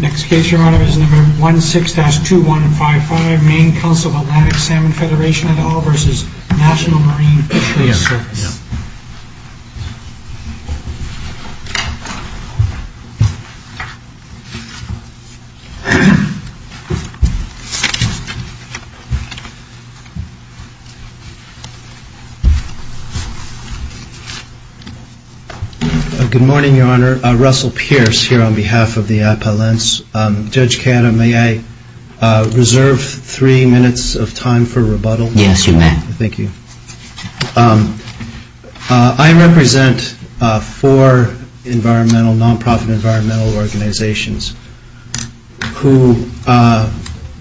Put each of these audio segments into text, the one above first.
Next case your honor is number 16-2155 Maine Council of Atlantic Salmon Federation at all versus National Marine Fisheries Service. Russell Pearce Good morning your honor, Russell Pearce here on behalf of the Appellants. Judge Canna, may I reserve three minutes of time for rebuttal? Yes, you may. I represent four environmental non-profit environmental organizations who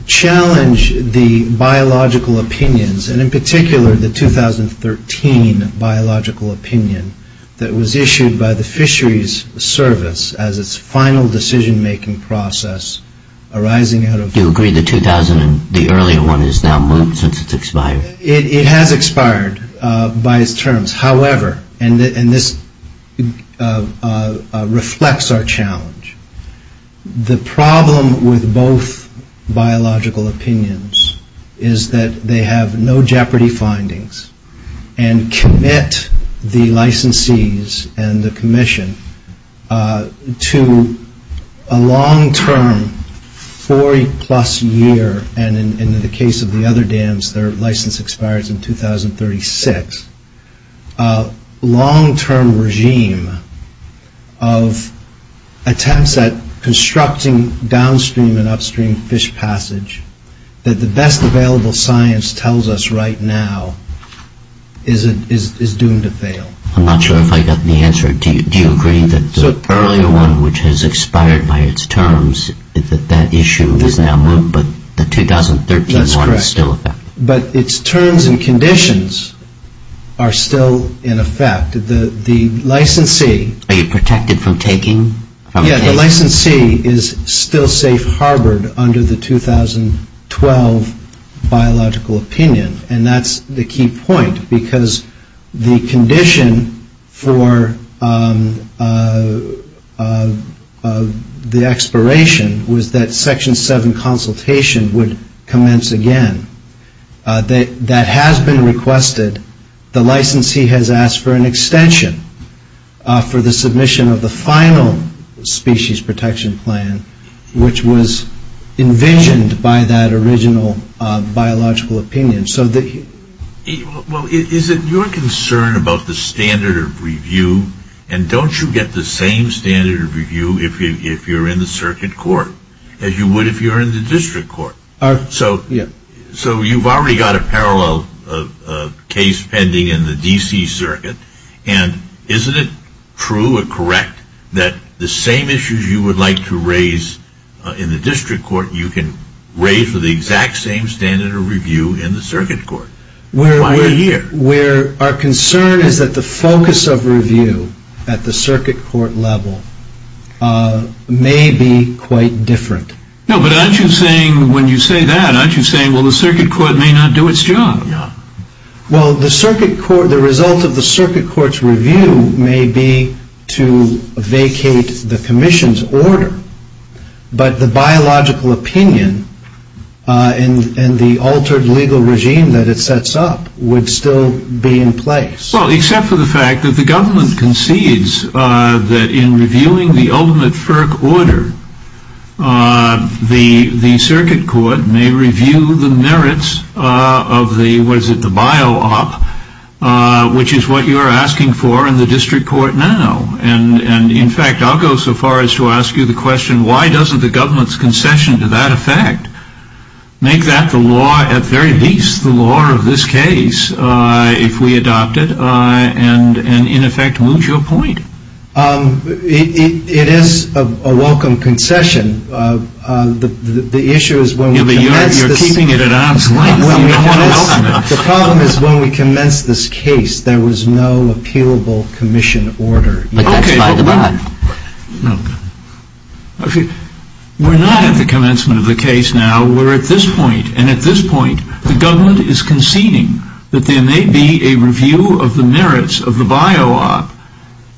challenge the biological opinions and in particular the 2013 biological opinion that was issued by the fisheries service as its final decision making process arising out of. Do you agree the 2000, the earlier one is now moved since it's expired? It has expired by its terms, however, and this reflects our challenge. The problem with both biological opinions is that they have no jeopardy findings and commit the licensees and the commission to a long term 40 plus year and in the case of the other dams their license expires in 2036, long term regime of attempts at constructing downstream and upstream fish passage that the best available science tells us right now is doomed to fail. I'm not sure if I got the answer. Do you agree that the earlier one which has expired by its terms that that issue is now moved but the 2013 one is still effective? That's correct, but its terms and conditions are still in effect. The licensee Are you protected from taking? Yes, the licensee is still safe harbored under the 2012 biological opinion and that's the key point because the condition for the expiration was that section 7 consultation would commence again. That has been requested. The licensee has asked for an extension for the submission of the final species protection plan which was envisioned by that original biological opinion. Is it your concern about the standard of review and don't you get the same standard of review if you're in the circuit court as you would if you're in the district court? So you've already got a parallel case pending in the D.C. circuit and isn't it true or correct that the same issues you would like to raise in the district court you can raise with the exact same standard of review in the circuit court? Why are you here? Our concern is that the focus of review at the circuit court level may be quite different. No, but aren't you saying when you say that the circuit court may not do its job? Well, the result of the circuit court's review may be to vacate the commission's order but the biological opinion and the altered legal regime that it sets up would still be in place. Well, except for the fact that the government concedes that in reviewing the ultimate FERC order the circuit court may review the merits of the bio-op which is what you're asking for in the district court now and in fact I'll go so far as to ask you the question why doesn't the government's concession to that effect make that the law at the very least the law of this case if we adopt it and in effect lose your point? It is a welcome concession. The issue is when we commence this case there was no appealable commission order yet. Okay. We're not at the commencement of the case now we're at this point the government is conceding that there may be a review of the merits of the bio-op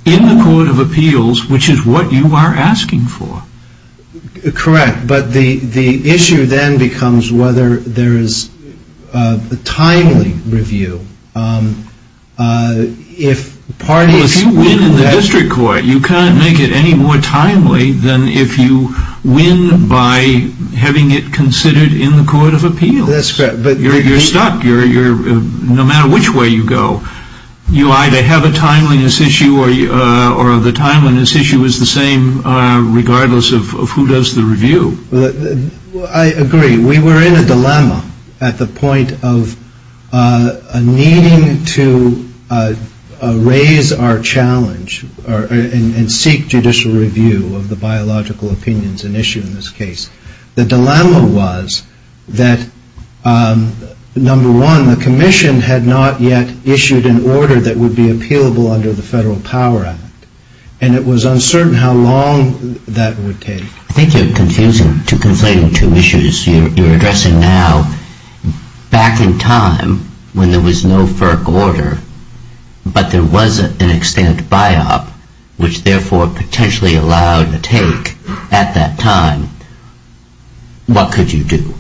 in the court of appeals which is what you are asking for. Correct, but the issue then becomes whether there is a timely review. Well, if you win in the district court you can't make it any more timely than if you win by having it considered in the court of appeals. You're stuck no matter which way you go. You either have a timeliness issue or the timeliness issue is the same regardless of who does the review. I agree we were in a dilemma at the point of needing to raise our challenge and seek judicial review of the biological opinions and issue in this case. The dilemma was that number one the commission had not yet issued an order that would be appealable under the Federal Power Act and it was uncertain how long that would take. I think you're conflating two issues you're addressing now. Back in time when there was no FERC order but there was an extended bio-op which therefore potentially allowed a take at that time, what could you do?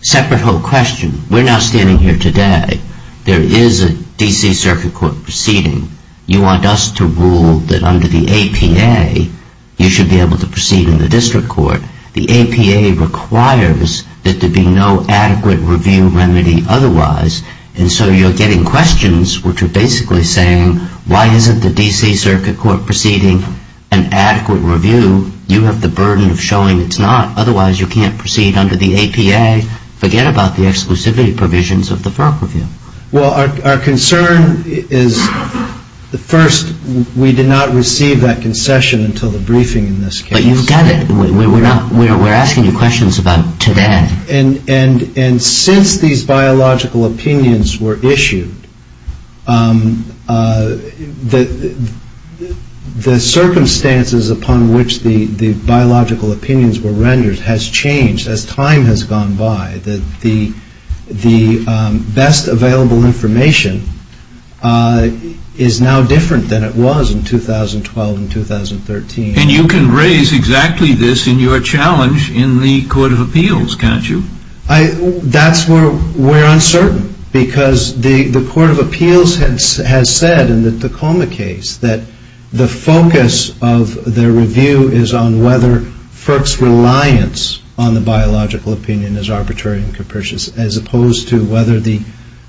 Separate whole question. We're not standing here today. There is a DC Circuit Court proceeding. You want us to rule that under the APA you should be able to proceed in the district court. The APA requires that there be no adequate review remedy otherwise and so you're getting questions which are basically saying why isn't the DC Circuit Court proceeding an adequate review? You have the burden of showing it's not otherwise you can't proceed under the APA. Forget about the exclusivity provisions of the FERC review. Well our concern is first we did not receive that concession until the briefing in this case. But you've got it. We're asking you questions about today. And since these biological opinions were issued, the circumstances upon which the biological opinions were rendered has changed as time has gone by. The best available information is now different than it was in 2012 and 2013. And you can raise exactly this in your challenge in the Court of Appeals, can't you? That's where we're uncertain because the Court of Appeals has said in the Tacoma case that the focus of their review is on whether FERC's reliance on the biological opinion is arbitrary and capricious as opposed to whether the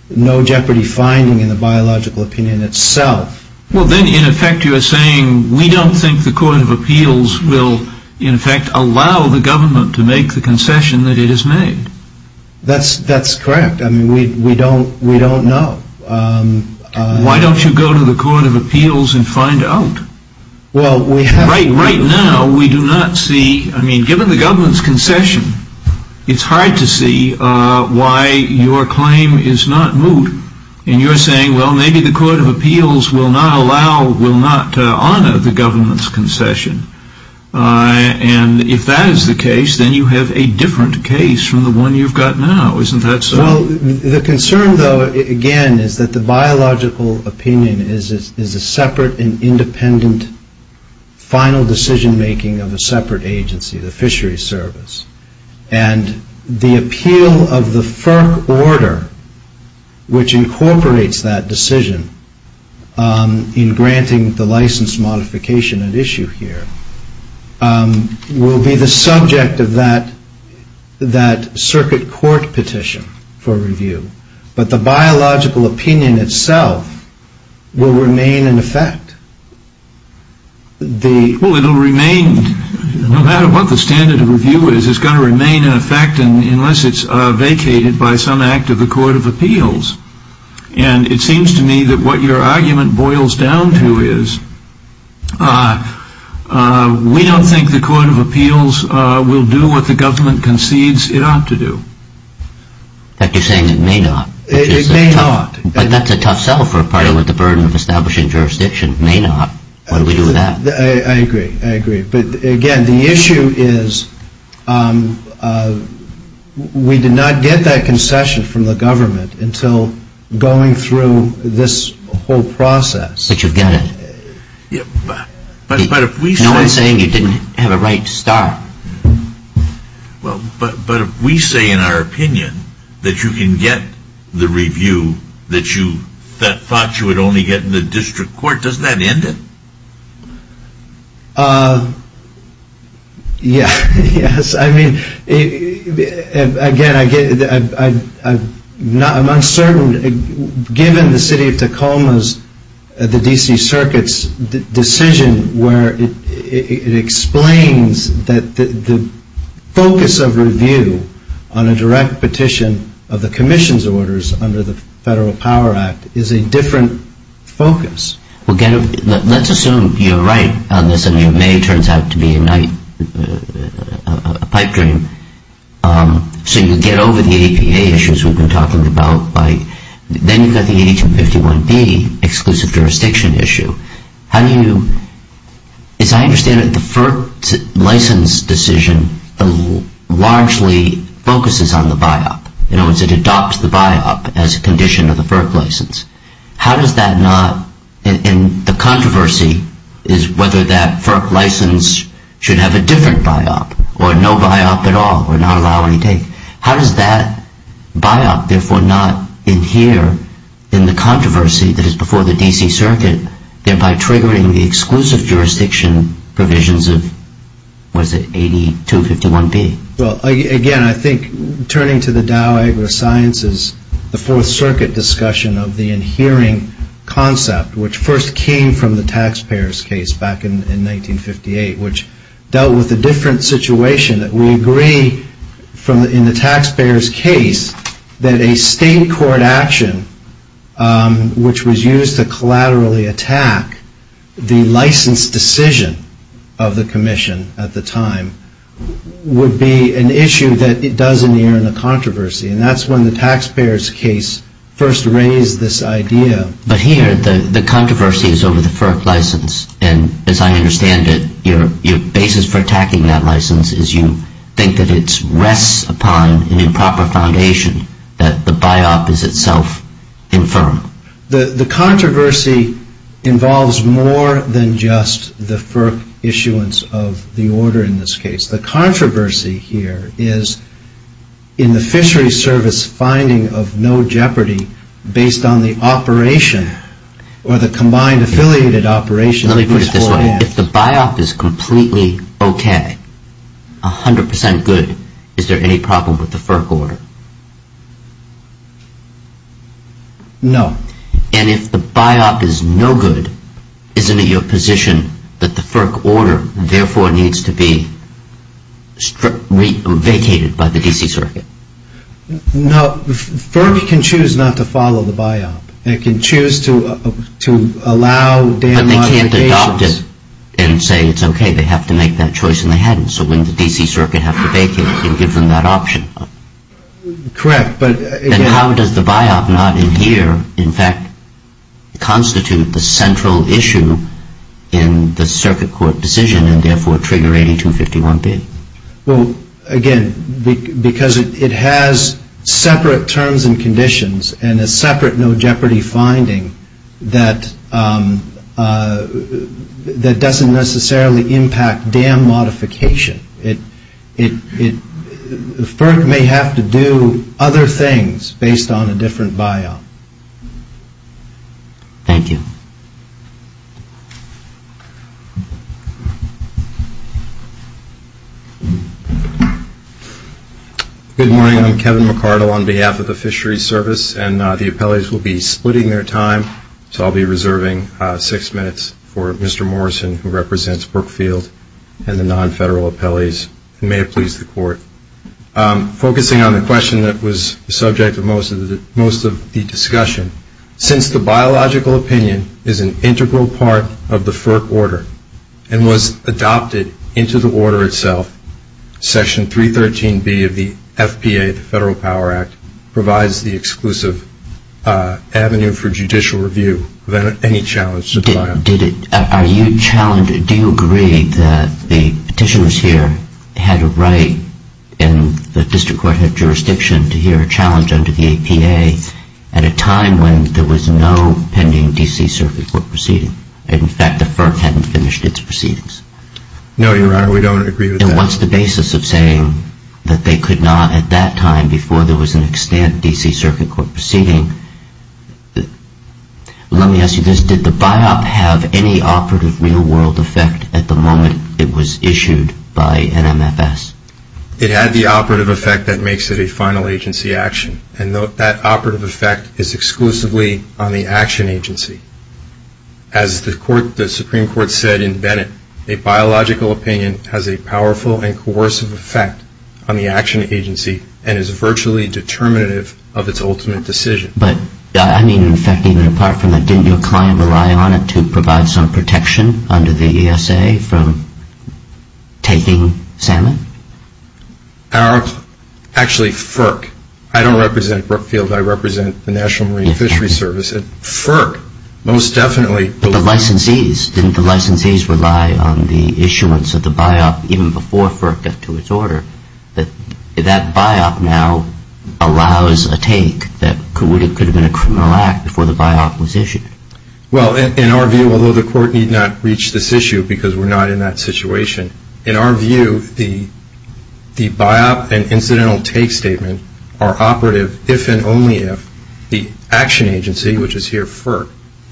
no jeopardy finding in the biological opinion itself. Well then in effect you're saying we don't think the Court of Appeals will in effect allow the government to make the concession that it has made. That's correct. I mean we don't know. Why don't you go to the Court of Appeals and find out? Well we have... Right now we do not see, I mean given the government's concession, it's hard to see why your claim is not moved. And you're saying well maybe the Court of Appeals will not allow, will not honor the government's concession. And if that is the case then you have a different case from the one you've got now. Isn't that so? Well the concern though again is that the biological opinion is a separate and independent final decision making of a separate agency, the fisheries service. And the appeal of the FERC order which incorporates that decision in granting the license modification at issue here will be the subject of that circuit court petition for review. But the biological opinion itself will remain in effect. Well it will remain, no matter what the standard of review is, it's going to remain in effect unless it's vacated by some act of the Court of Appeals. And it seems to me that what your argument boils down to is we don't think the Court of Appeals will do what the government concedes it ought to do. But you're saying it may not. It may not. But that's a tough sell for a party with the burden of establishing jurisdiction. It may not. What do we do with that? I agree. I agree. But again the issue is we did not get that concession from the government until going through this whole process. But you get it. But if we say No one's saying you didn't have a right to start. Well, but if we say in our opinion that you can get the review that you thought you would only get in the district court, doesn't that end it? Yes. I mean, again, I'm uncertain. Given the City of Tacoma's, the D.C. Circuit's decision where it explains that the focus of review on a direct petition of the Commission's orders under the Federal Power Act is a different focus. Well, again, let's assume you're right on this and your May turns out to be a night a pipe dream. So you get over the APA issues we've been talking about. Then you've got the H-51B exclusive jurisdiction issue. How do you, as I understand it, the FERC license decision largely focuses on the BIOP. In other words, it adopts the BIOP as a condition of the FERC license. How does that not, and the controversy is whether that FERC license should have a different BIOP or no BIOP at all or not allow any take. How does that BIOP therefore not adhere in the controversy that is before the D.C. Circuit, thereby triggering the exclusive jurisdiction provisions of, what is it, AD 251B? Well, again, I think turning to the Dow Agri-Sciences, the Fourth Circuit discussion of the adhering concept which first came from the taxpayers' case back in 1958, which dealt with a different situation. We agree in the taxpayers' case that a state court action which was used to collaterally attack the license decision of the commission at the time would be an issue that it does adhere in the controversy. And that's when the taxpayers' case first raised this idea. But here, the controversy is over the FERC license. And as I understand it, your basis for attacking that license is you think that it rests upon an improper foundation, that the BIOP is itself infirm. The controversy involves more than just the FERC issuance of the order in this case. The controversy here is in the Fishery Service finding of no jeopardy based on the operation or the combined affiliated operation. Let me put it this way. If the BIOP is completely okay, 100% good, is there any problem with the FERC order? No. And if the BIOP is no good, isn't it your position that the FERC order, therefore, needs to be vacated by the D.C. Circuit? No. FERC can choose not to follow the BIOP. It can choose to allow down on vacations. But they can't adopt it and say it's okay. They have to make that choice, and they haven't. So when the D.C. Circuit have to vacate, it can give them that option. Correct, but... And how does the BIOP not adhere, in fact, constitute the central issue in the Circuit Court decision and, therefore, trigger 8251B? Well, again, because it has separate terms and conditions and a separate no jeopardy finding that doesn't necessarily impact dam modification. FERC may have to do other things based on a different BIOP. Thank you. Good morning. I'm Kevin McCardle on behalf of the Fisheries Service. And the appellees will be splitting their time, so I'll be reserving six minutes for Mr. Morrison, who represents Brookfield, and the non-federal appellees, and may it please the Court. Focusing on the question that was the subject of most of the discussion, since the biological opinion is an integral part of the FERC order and was adopted into the order itself, Section 313B of the FPA, the Federal Power Act, provides the exclusive avenue for judicial review without any challenge to the BIOP. Are you challenged? Do you agree that the petitioners here had a right in the District Court of Jurisdiction to hear a challenge under the APA at a time when there was no pending D.C. Circuit Court proceeding? In fact, the FERC hadn't finished its proceedings. No, Your Honor, we don't agree with that. And what's the basis of saying that they could not at that time before there was an extant D.C. Circuit Court proceeding? Let me ask you this. Did the BIOP have any operative real-world effect at the moment it was issued by NMFS? It had the operative effect that makes it a final agency action. And that operative effect is exclusively on the action agency. As the Supreme Court said in Bennett, a biological opinion has a powerful and coercive effect on the action agency and is virtually determinative of its ultimate decision. But I mean, in fact, even apart from that, didn't your client rely on it to provide some Actually, FERC. I don't represent Brookfield. I represent the National Marine Fishery Service. FERC, most definitely. But the licensees, didn't the licensees rely on the issuance of the BIOP even before FERC got to its order? That BIOP now allows a take that could have been a criminal act before the BIOP was issued. Well, in our view, although the Court need not reach this issue because we're not in that situation, in our view, the BIOP and incidental take statement are operative if and only if the action agency, which is here FERC,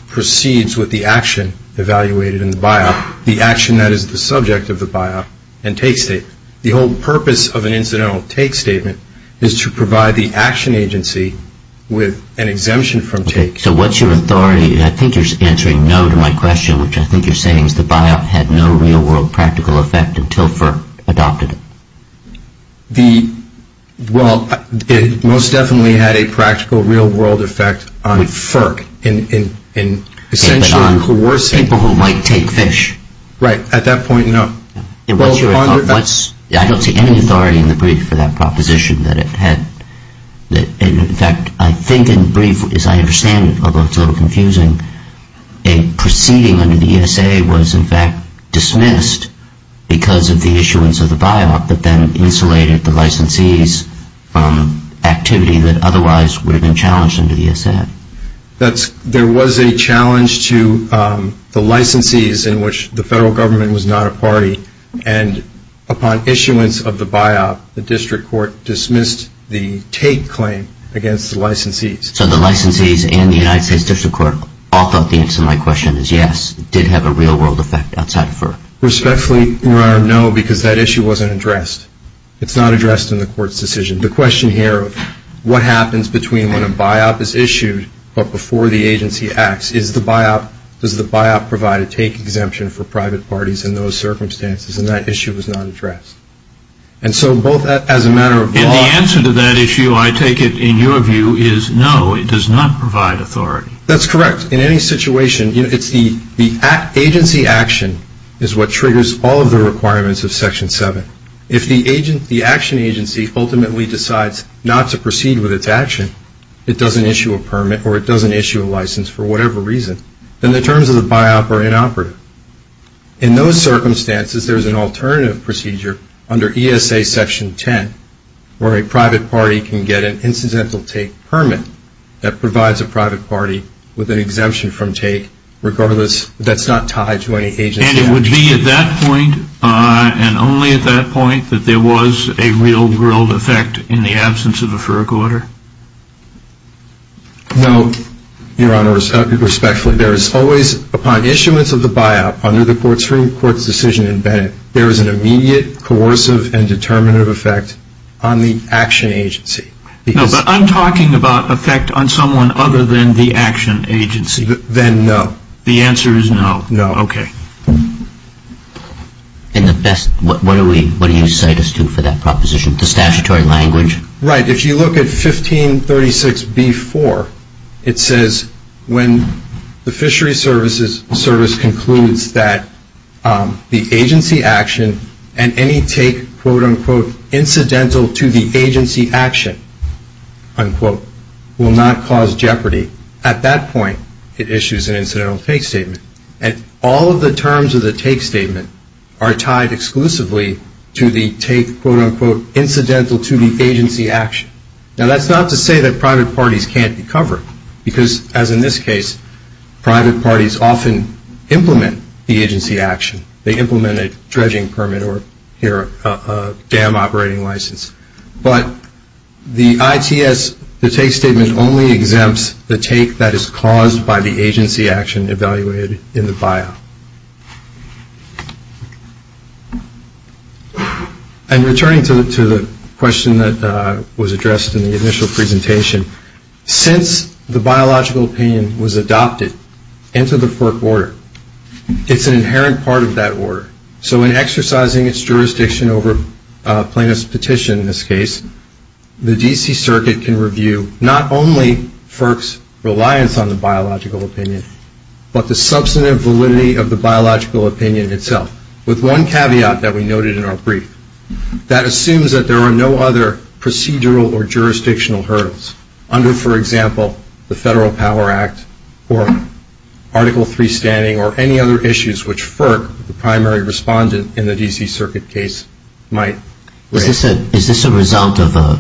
proceeds with the action evaluated in the BIOP, the action that is the subject of the BIOP and take statement. The whole purpose of an incidental take statement is to provide the action agency with an exemption from take. So what's your authority? I think you're answering no to my question, which I think you're saying is the BIOP had no real-world practical effect until FERC adopted it. Well, it most definitely had a practical real-world effect on FERC in essentially coercing People who might take fish. Right. At that point, no. I don't see any authority in the brief for that proposition that it had. In fact, I think in the brief, as I understand it, although it's a little confusing, a proceeding under the ESA was in fact dismissed because of the issuance of the BIOP that then insulated the licensees from activity that otherwise would have been challenged under the ESA. There was a challenge to the licensees in which the federal government was not a party, and upon issuance of the BIOP, the district court dismissed the take claim against the licensees. So the licensees and the United States District Court all thought the answer to my question is yes, it did have a real-world effect outside of FERC. Respectfully, Your Honor, no, because that issue wasn't addressed. It's not addressed in the court's decision. The question here of what happens between when a BIOP is issued but before the agency acts, is the BIOP, does the BIOP provide a take exemption for private parties in those circumstances? And that issue was not addressed. And so both as a matter of law... And the answer to that issue, I take it, in your view, is no, it does not provide authority. That's correct. In any situation, it's the agency action is what triggers all of the requirements of Section 7. If the action agency ultimately decides not to proceed with its action, it doesn't issue a permit or it doesn't issue a license for whatever reason, then the terms of the BIOP are inoperative. In those circumstances, there's an alternative procedure under ESA Section 10 where a private party can get an incidental take permit that provides a private party with an exemption from take regardless, that's not tied to any agency action. And it would be at that point and only at that point that there was a real-world effect in the absence of a FERC order? No, Your Honor, respectfully, there is always, upon issuance of the BIOP under the Court's decision in Bennett, there is an immediate coercive and determinative effect on the action agency. No, but I'm talking about effect on someone other than the action agency. Then no. The answer is no. No. Okay. And the best, what do you cite us to for that proposition, the statutory language? Right. If you look at 1536B4, it says when the fishery service concludes that the agency action and any take, quote, unquote, incidental to the agency action, unquote, will not cause jeopardy. At that point, it issues an incidental take statement. And all of the terms of the take statement are tied exclusively to the take, quote, unquote, incidental to the agency action. Now, that's not to say that private parties can't be covered because, as in this case, private parties often implement the agency action. They implement a dredging permit or, here, a dam operating license. But the ITS, the take statement only exempts the take that is caused by the agency action evaluated in the BIOP. I'm returning to the question that was addressed in the initial presentation. Since the biological opinion was adopted into the FERC order, it's an inherent part of that order. So in exercising its jurisdiction over plaintiff's petition in this case, the D.C. opinion itself, with one caveat that we noted in our brief, that assumes that there are no other procedural or jurisdictional hurdles under, for example, the Federal Power Act or Article III standing or any other issues which FERC, the primary respondent in the D.C. Circuit case, might raise. Is this a result of a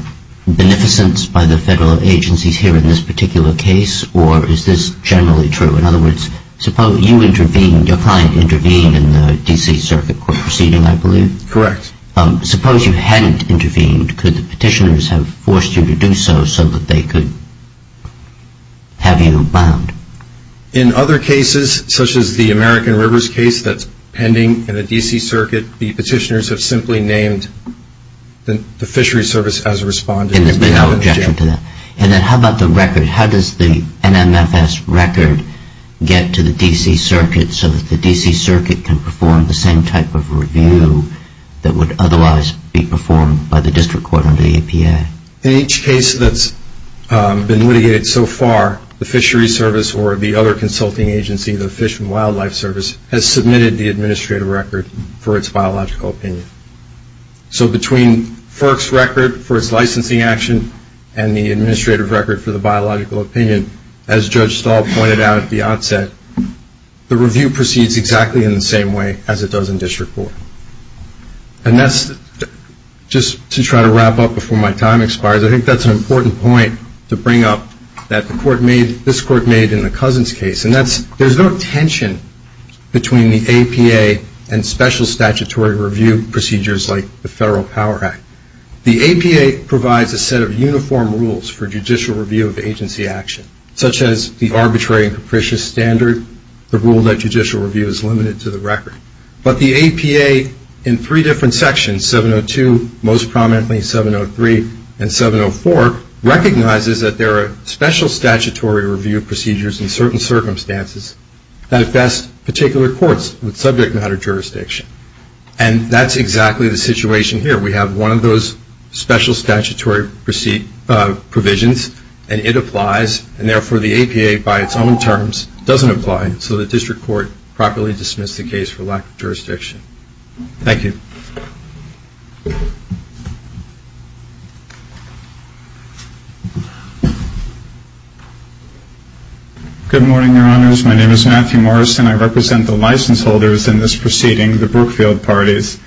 beneficence by the federal agencies here in this particular case, or is this generally true? In other words, suppose you intervened, your client intervened in the D.C. Circuit court proceeding, I believe? Correct. Suppose you hadn't intervened. Could the petitioners have forced you to do so so that they could have you bound? In other cases, such as the American Rivers case that's pending in the D.C. Circuit, the petitioners have simply named the fishery service as a respondent. And there's been no objection to that. And then how about the record? How does the NMFS record get to the D.C. Circuit so that the D.C. Circuit can perform the same type of review that would otherwise be performed by the district court under the EPA? In each case that's been litigated so far, the fishery service or the other consulting agency, the Fish and Wildlife Service, has submitted the administrative record for its biological opinion. So between FERC's record for its licensing action and the administrative record for the biological opinion, as Judge Stahl pointed out at the onset, the review proceeds exactly in the same way as it does in district court. And that's just to try to wrap up before my time expires. I think that's an important point to bring up that this Court made in the Cousins case. And that's there's no tension between the APA and special statutory review procedures like the Federal Power Act. The APA provides a set of uniform rules for judicial review of agency action, such as the arbitrary and capricious standard, the rule that judicial review is limited to the record. But the APA in three different sections, 702, most prominently 703, and 704, recognizes that there are special statutory review procedures in certain circumstances that best particular courts with subject matter jurisdiction. And that's exactly the situation here. We have one of those special statutory provisions, and it applies. And therefore, the APA by its own terms doesn't apply. So the district court properly dismissed the case for lack of jurisdiction. Thank you. Good morning, Your Honors. My name is Matthew Morrison. I represent the license holders in this proceeding, the Brookfield parties.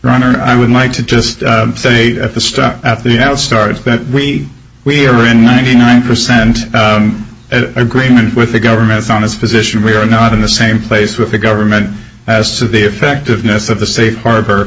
Your Honor, I would like to just say at the outstart that we are in 99 percent agreement with the government on its position. We are not in the same place with the government as to the effectiveness of the safe harbor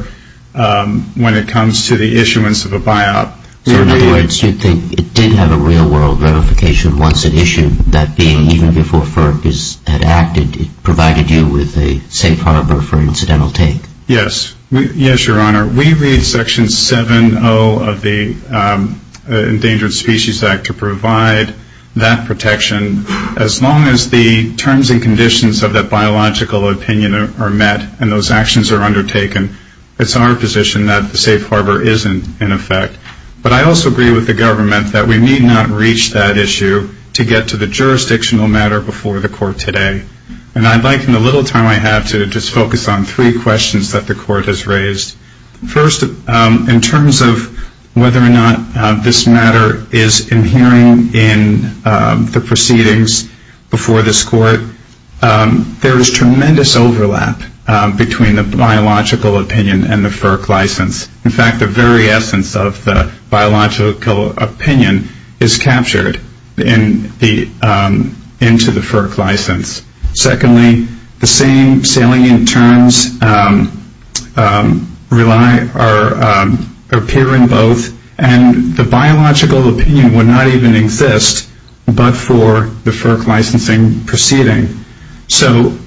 when it comes to the issuance of a buyout. So in other words, you think it did have a real-world verification once it issued that being, even before FERC had acted, it provided you with a safe harbor for incidental take? Yes. Yes, Your Honor. We read Section 70 of the Endangered Species Act to provide that protection. As long as the terms and conditions of that biological opinion are met and those actions are undertaken, it's our position that the safe harbor is in effect. But I also agree with the government that we need not reach that issue to get to the jurisdictional matter before the court today. And I'd like, in the little time I have, to just focus on three questions that the court has raised. First, in terms of whether or not this matter is inhering in the proceedings before this court, there is tremendous overlap between the biological opinion and the FERC license. In fact, the very essence of the biological opinion is captured into the FERC license. Secondly, the same salient terms appear in both, and the biological opinion would not even exist but for the FERC licensing proceeding. So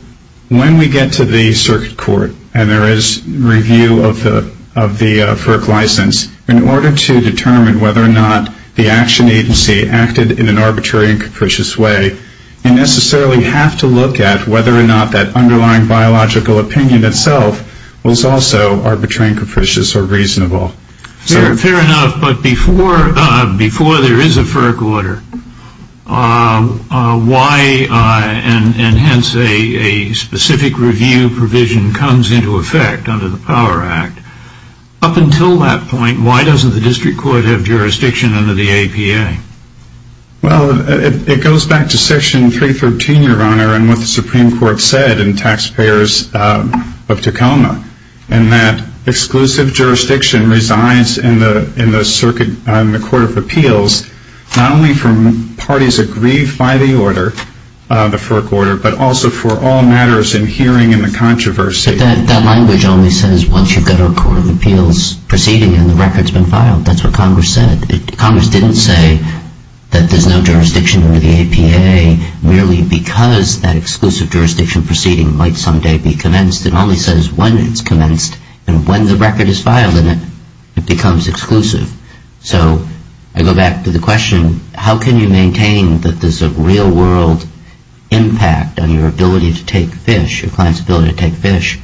when we get to the circuit court and there is review of the FERC license, in order to determine whether or not the action agency acted in an arbitrary and capricious way, you necessarily have to look at whether or not that underlying biological opinion itself was also arbitrary and capricious or reasonable. Fair enough. But before there is a FERC order, and hence a specific review provision comes into effect under the Power Act, up until that point, why doesn't the district court have jurisdiction under the APA? Well, it goes back to Section 313, Your Honor, and what the Supreme Court said in Taxpayers of Tacoma, in that exclusive jurisdiction resides in the Court of Appeals not only for parties agreed by the order, the FERC order, but also for all matters inhering in the controversy. But that language only says once you've got a Court of Appeals proceeding and the record's been filed. That's what Congress said. Congress didn't say that there's no jurisdiction under the APA merely because that exclusive jurisdiction proceeding might someday be commenced. It only says when it's commenced, and when the record is filed in it, it becomes exclusive. So I go back to the question, how can you maintain that there's a real-world impact on your ability to take fish, your client's ability to take fish,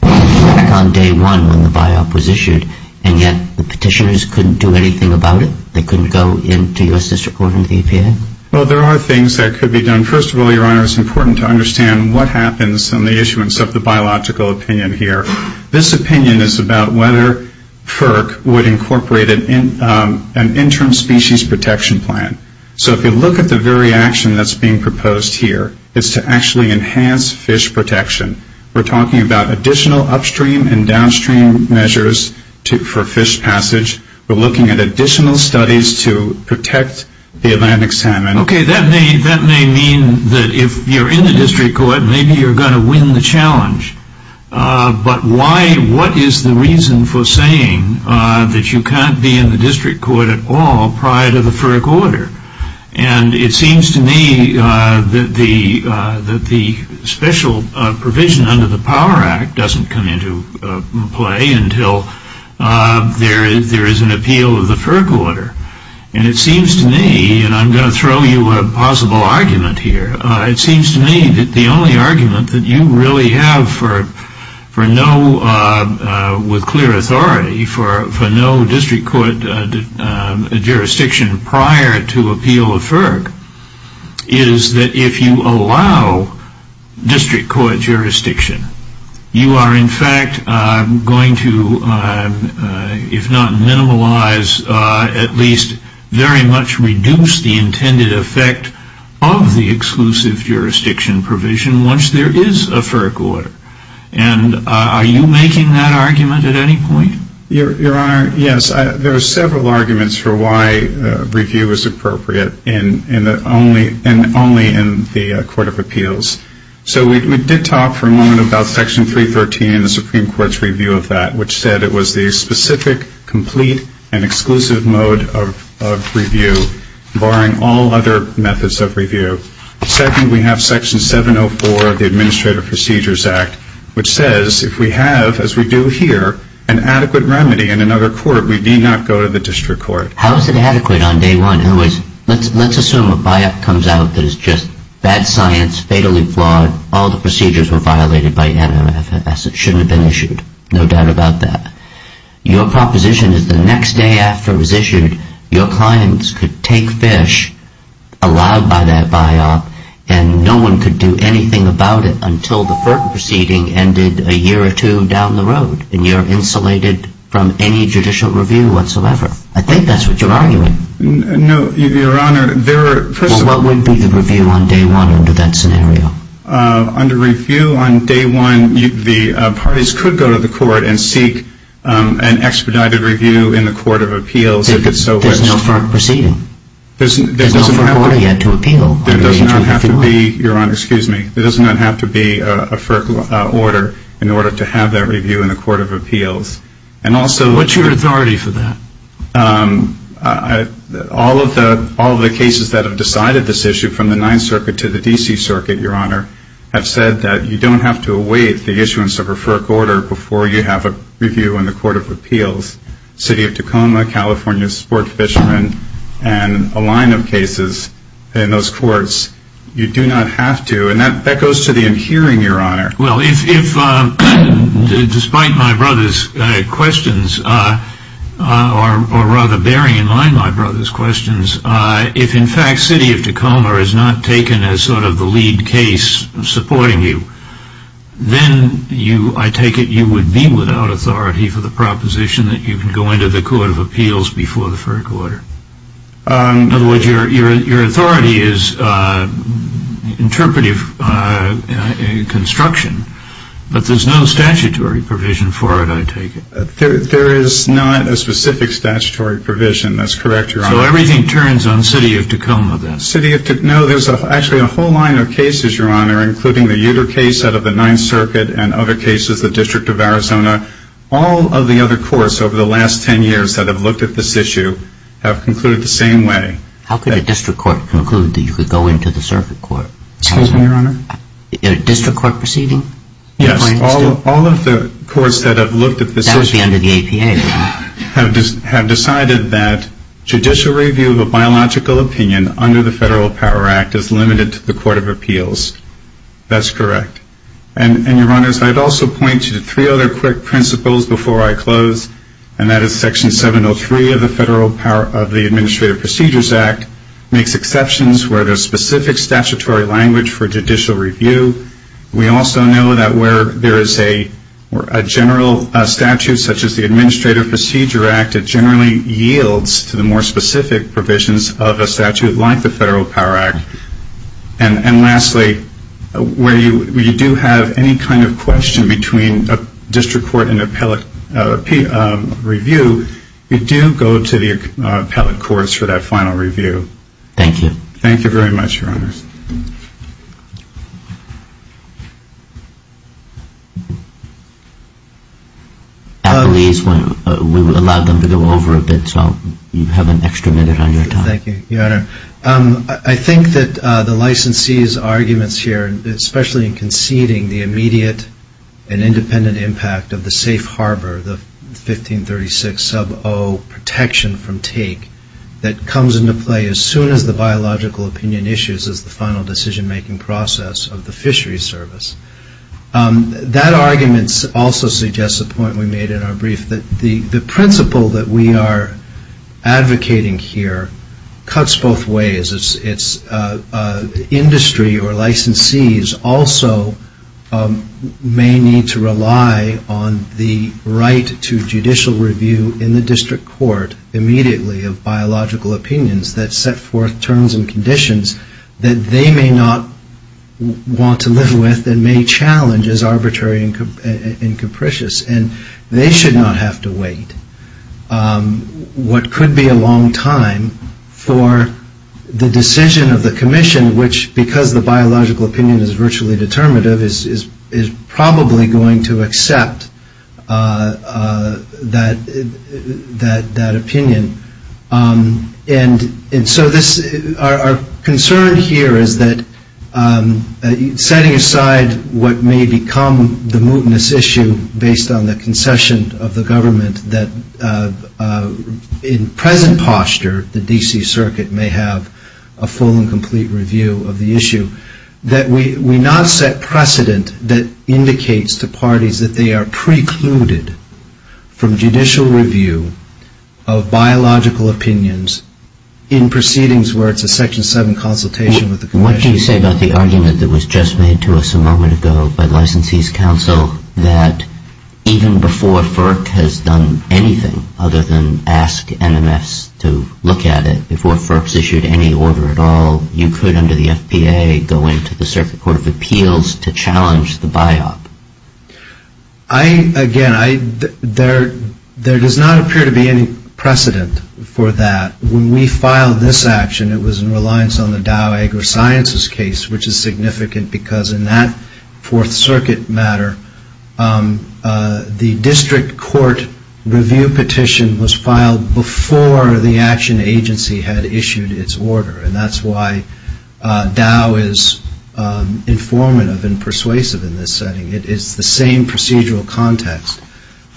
back on day one when the BiOp was issued, and yet the petitioners couldn't do anything about it? They couldn't go into your district court and the APA? Well, there are things that could be done. First of all, Your Honor, it's important to understand what happens on the issuance of the biological opinion here. This opinion is about whether FERC would incorporate an interim species protection plan. So if you look at the very action that's being proposed here, it's to actually enhance fish protection. We're talking about additional upstream and downstream measures for fish passage. We're looking at additional studies to protect the Atlantic salmon. Okay, that may mean that if you're in the district court, maybe you're going to win the challenge. But what is the reason for saying that you can't be in the district court at all prior to the FERC order? And it seems to me that the special provision under the Power Act doesn't come into play until there is an appeal of the FERC order. And it seems to me, and I'm going to throw you a possible argument here, it seems to me that the only argument that you really have for no, with clear authority, for no district court jurisdiction prior to appeal of FERC is that if you allow district court jurisdiction, you are in fact going to, if not minimalize, at least very much reduce the intended effect of the exclusive jurisdiction provision once there is a FERC order. And are you making that argument at any point? Your Honor, yes. There are several arguments for why review is appropriate, and only in the Court of Appeals. So we did talk for a moment about Section 313 and the Supreme Court's review of that, which said it was the specific, complete, and exclusive mode of review, barring all other methods of review. Second, we have Section 704 of the Administrative Procedures Act, which says if we have, as we do here, an adequate remedy in another court, we need not go to the district court. How is it adequate on day one? Let's assume a buyout comes out that is just bad science, fatally flawed, all the procedures were violated by NMFS, it shouldn't have been issued, no doubt about that. Your proposition is the next day after it was issued, your clients could take fish allowed by that buyout, and no one could do anything about it until the FERC proceeding ended a year or two down the road, and you're insulated from any judicial review whatsoever. I think that's what you're arguing. No, Your Honor. Well, what would be the review on day one under that scenario? Under review on day one, the parties could go to the court and seek an expedited review in the Court of Appeals if it's so wished. There's no FERC proceeding. There's no FERC order yet to appeal. There does not have to be, Your Honor, excuse me, there does not have to be a FERC order in order to have that review in the Court of Appeals. What's your authority for that? All of the cases that have decided this issue from the Ninth Circuit to the D.C. Circuit, Your Honor, have said that you don't have to await the issuance of a FERC order before you have a review in the Court of Appeals. City of Tacoma, California Sport Fishermen, and a line of cases in those courts, you do not have to, and that goes to the in hearing, Your Honor. Well, if despite my brother's questions, or rather bearing in mind my brother's questions, if in fact City of Tacoma is not taken as sort of the lead case supporting you, then I take it you would be without authority for the proposition that you can go into the Court of Appeals before the FERC order. In other words, your authority is interpretive construction, but there's no statutory provision for it, I take it. There is not a specific statutory provision, that's correct, Your Honor. So everything turns on City of Tacoma, then? City of Tacoma, no, there's actually a whole line of cases, Your Honor, including the Uter case out of the Ninth Circuit and other cases, the District of Arizona. All of the other courts over the last ten years that have looked at this issue have concluded the same way. How could a district court conclude that you could go into the circuit court? Excuse me, Your Honor? A district court proceeding? Yes, all of the courts that have looked at this issue have decided that judicial review of a biological opinion under the Federal Power Act is limited to the Court of Appeals. That's correct. And, Your Honors, I'd also point you to three other quick principles before I close, and that is Section 703 of the Administrative Procedures Act makes exceptions where there's specific statutory language for judicial review. We also know that where there is a general statute, such as the Administrative Procedure Act, it generally yields to the more specific provisions of a statute like the Federal Power Act. And lastly, where you do have any kind of question between a district court and an appellate review, you do go to the appellate courts for that final review. Thank you. Thank you very much, Your Honors. At least we allowed them to go over a bit, so you have an extra minute on your time. Thank you, Your Honor. I think that the licensee's arguments here, especially in conceding the immediate and independent impact of the safe harbor, the 1536 sub 0 protection from take, that comes into play as soon as the biological opinion issues as the final decision-making process of the fishery service. That argument also suggests a point we made in our brief, that the principle that we are advocating here cuts both ways. Industry or licensees also may need to rely on the right to judicial review in the district court immediately of biological opinions that set forth terms and conditions that they may not want to live with and may challenge as arbitrary and capricious. And they should not have to wait what could be a long time for the decision of the commission, which because the biological opinion is virtually determinative, is probably going to accept that opinion. And so our concern here is that setting aside what may become the mootness issue based on the concession of the government that in present posture the D.C. Circuit may have a full and complete review of the issue, that we not set precedent that indicates to parties that they are precluded from judicial review of biological opinions in proceedings where it's a section 7 consultation with the commission. What do you say about the argument that was just made to us a moment ago by licensees council that even before FERC has done anything other than ask MMS to look at it, even before FERC has issued any order at all, you could under the F.P.A. go into the Circuit Court of Appeals to challenge the BIOP? Again, there does not appear to be any precedent for that. When we filed this action, it was in reliance on the Dow Agri-Sciences case, which is significant because in that Fourth Circuit matter, the district court review petition was filed before the action agency had issued its order. And that's why Dow is informative and persuasive in this setting. It is the same procedural context.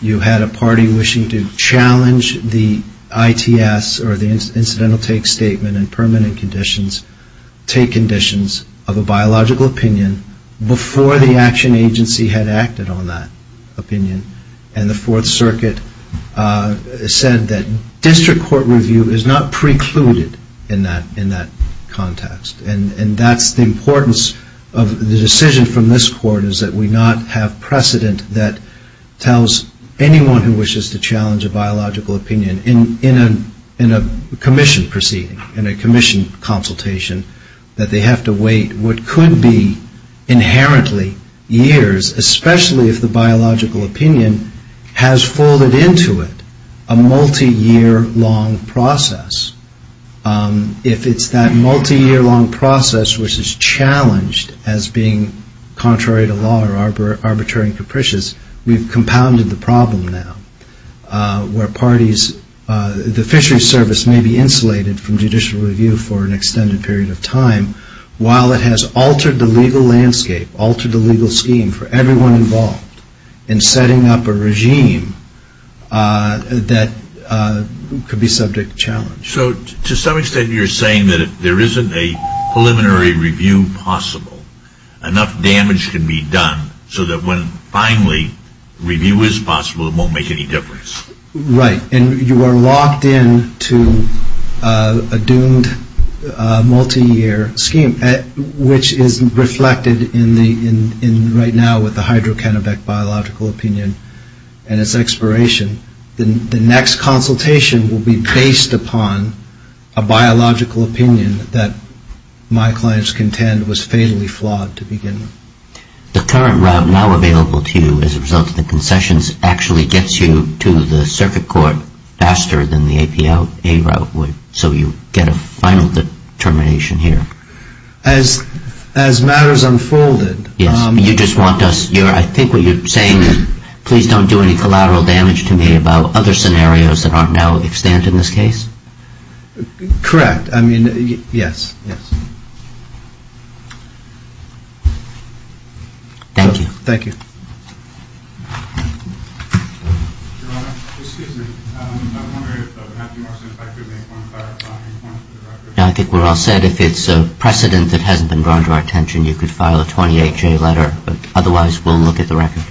You had a party wishing to challenge the ITS or the incidental take statement in permanent conditions, take conditions of a biological opinion before the action agency had acted on that opinion. And the Fourth Circuit said that district court review is not precluded in that context. And that's the importance of the decision from this court, is that we not have precedent that tells anyone who wishes to challenge a biological opinion in a commission proceeding, in a commission consultation, that they have to wait what could be inherently years, especially if the biological opinion has folded into it a multi-year long process. If it's that multi-year long process which is challenged as being contrary to law or arbitrary and capricious, we've compounded the problem now where parties, the fishery service may be insulated from judicial review for an extended period of time while it has altered the legal landscape, altered the legal scheme for everyone involved in setting up a regime that could be subject to challenge. So to some extent you're saying that if there isn't a preliminary review possible, enough damage can be done so that when finally review is possible, it won't make any difference. Right. And you are locked into a doomed multi-year scheme, which is reflected right now with the hydrocannabic biological opinion and its expiration. The next consultation will be based upon a biological opinion that my client's contend was fatally flawed to begin with. The current route now available to you as a result of the concessions actually gets you to the circuit court faster than the APA route would, so you get a final determination here. As matters unfolded. Yes, you just want us, I think what you're saying is please don't do any collateral damage to me about other scenarios that aren't now extant in this case. Correct, I mean, yes, yes. Thank you. Thank you. Your Honor, excuse me, I'm wondering if Matthew Marston and I could make one clarifying point. I think we're all set. If it's a precedent that hasn't been drawn to our attention, you could file a 28-J letter, but otherwise we'll look at the record.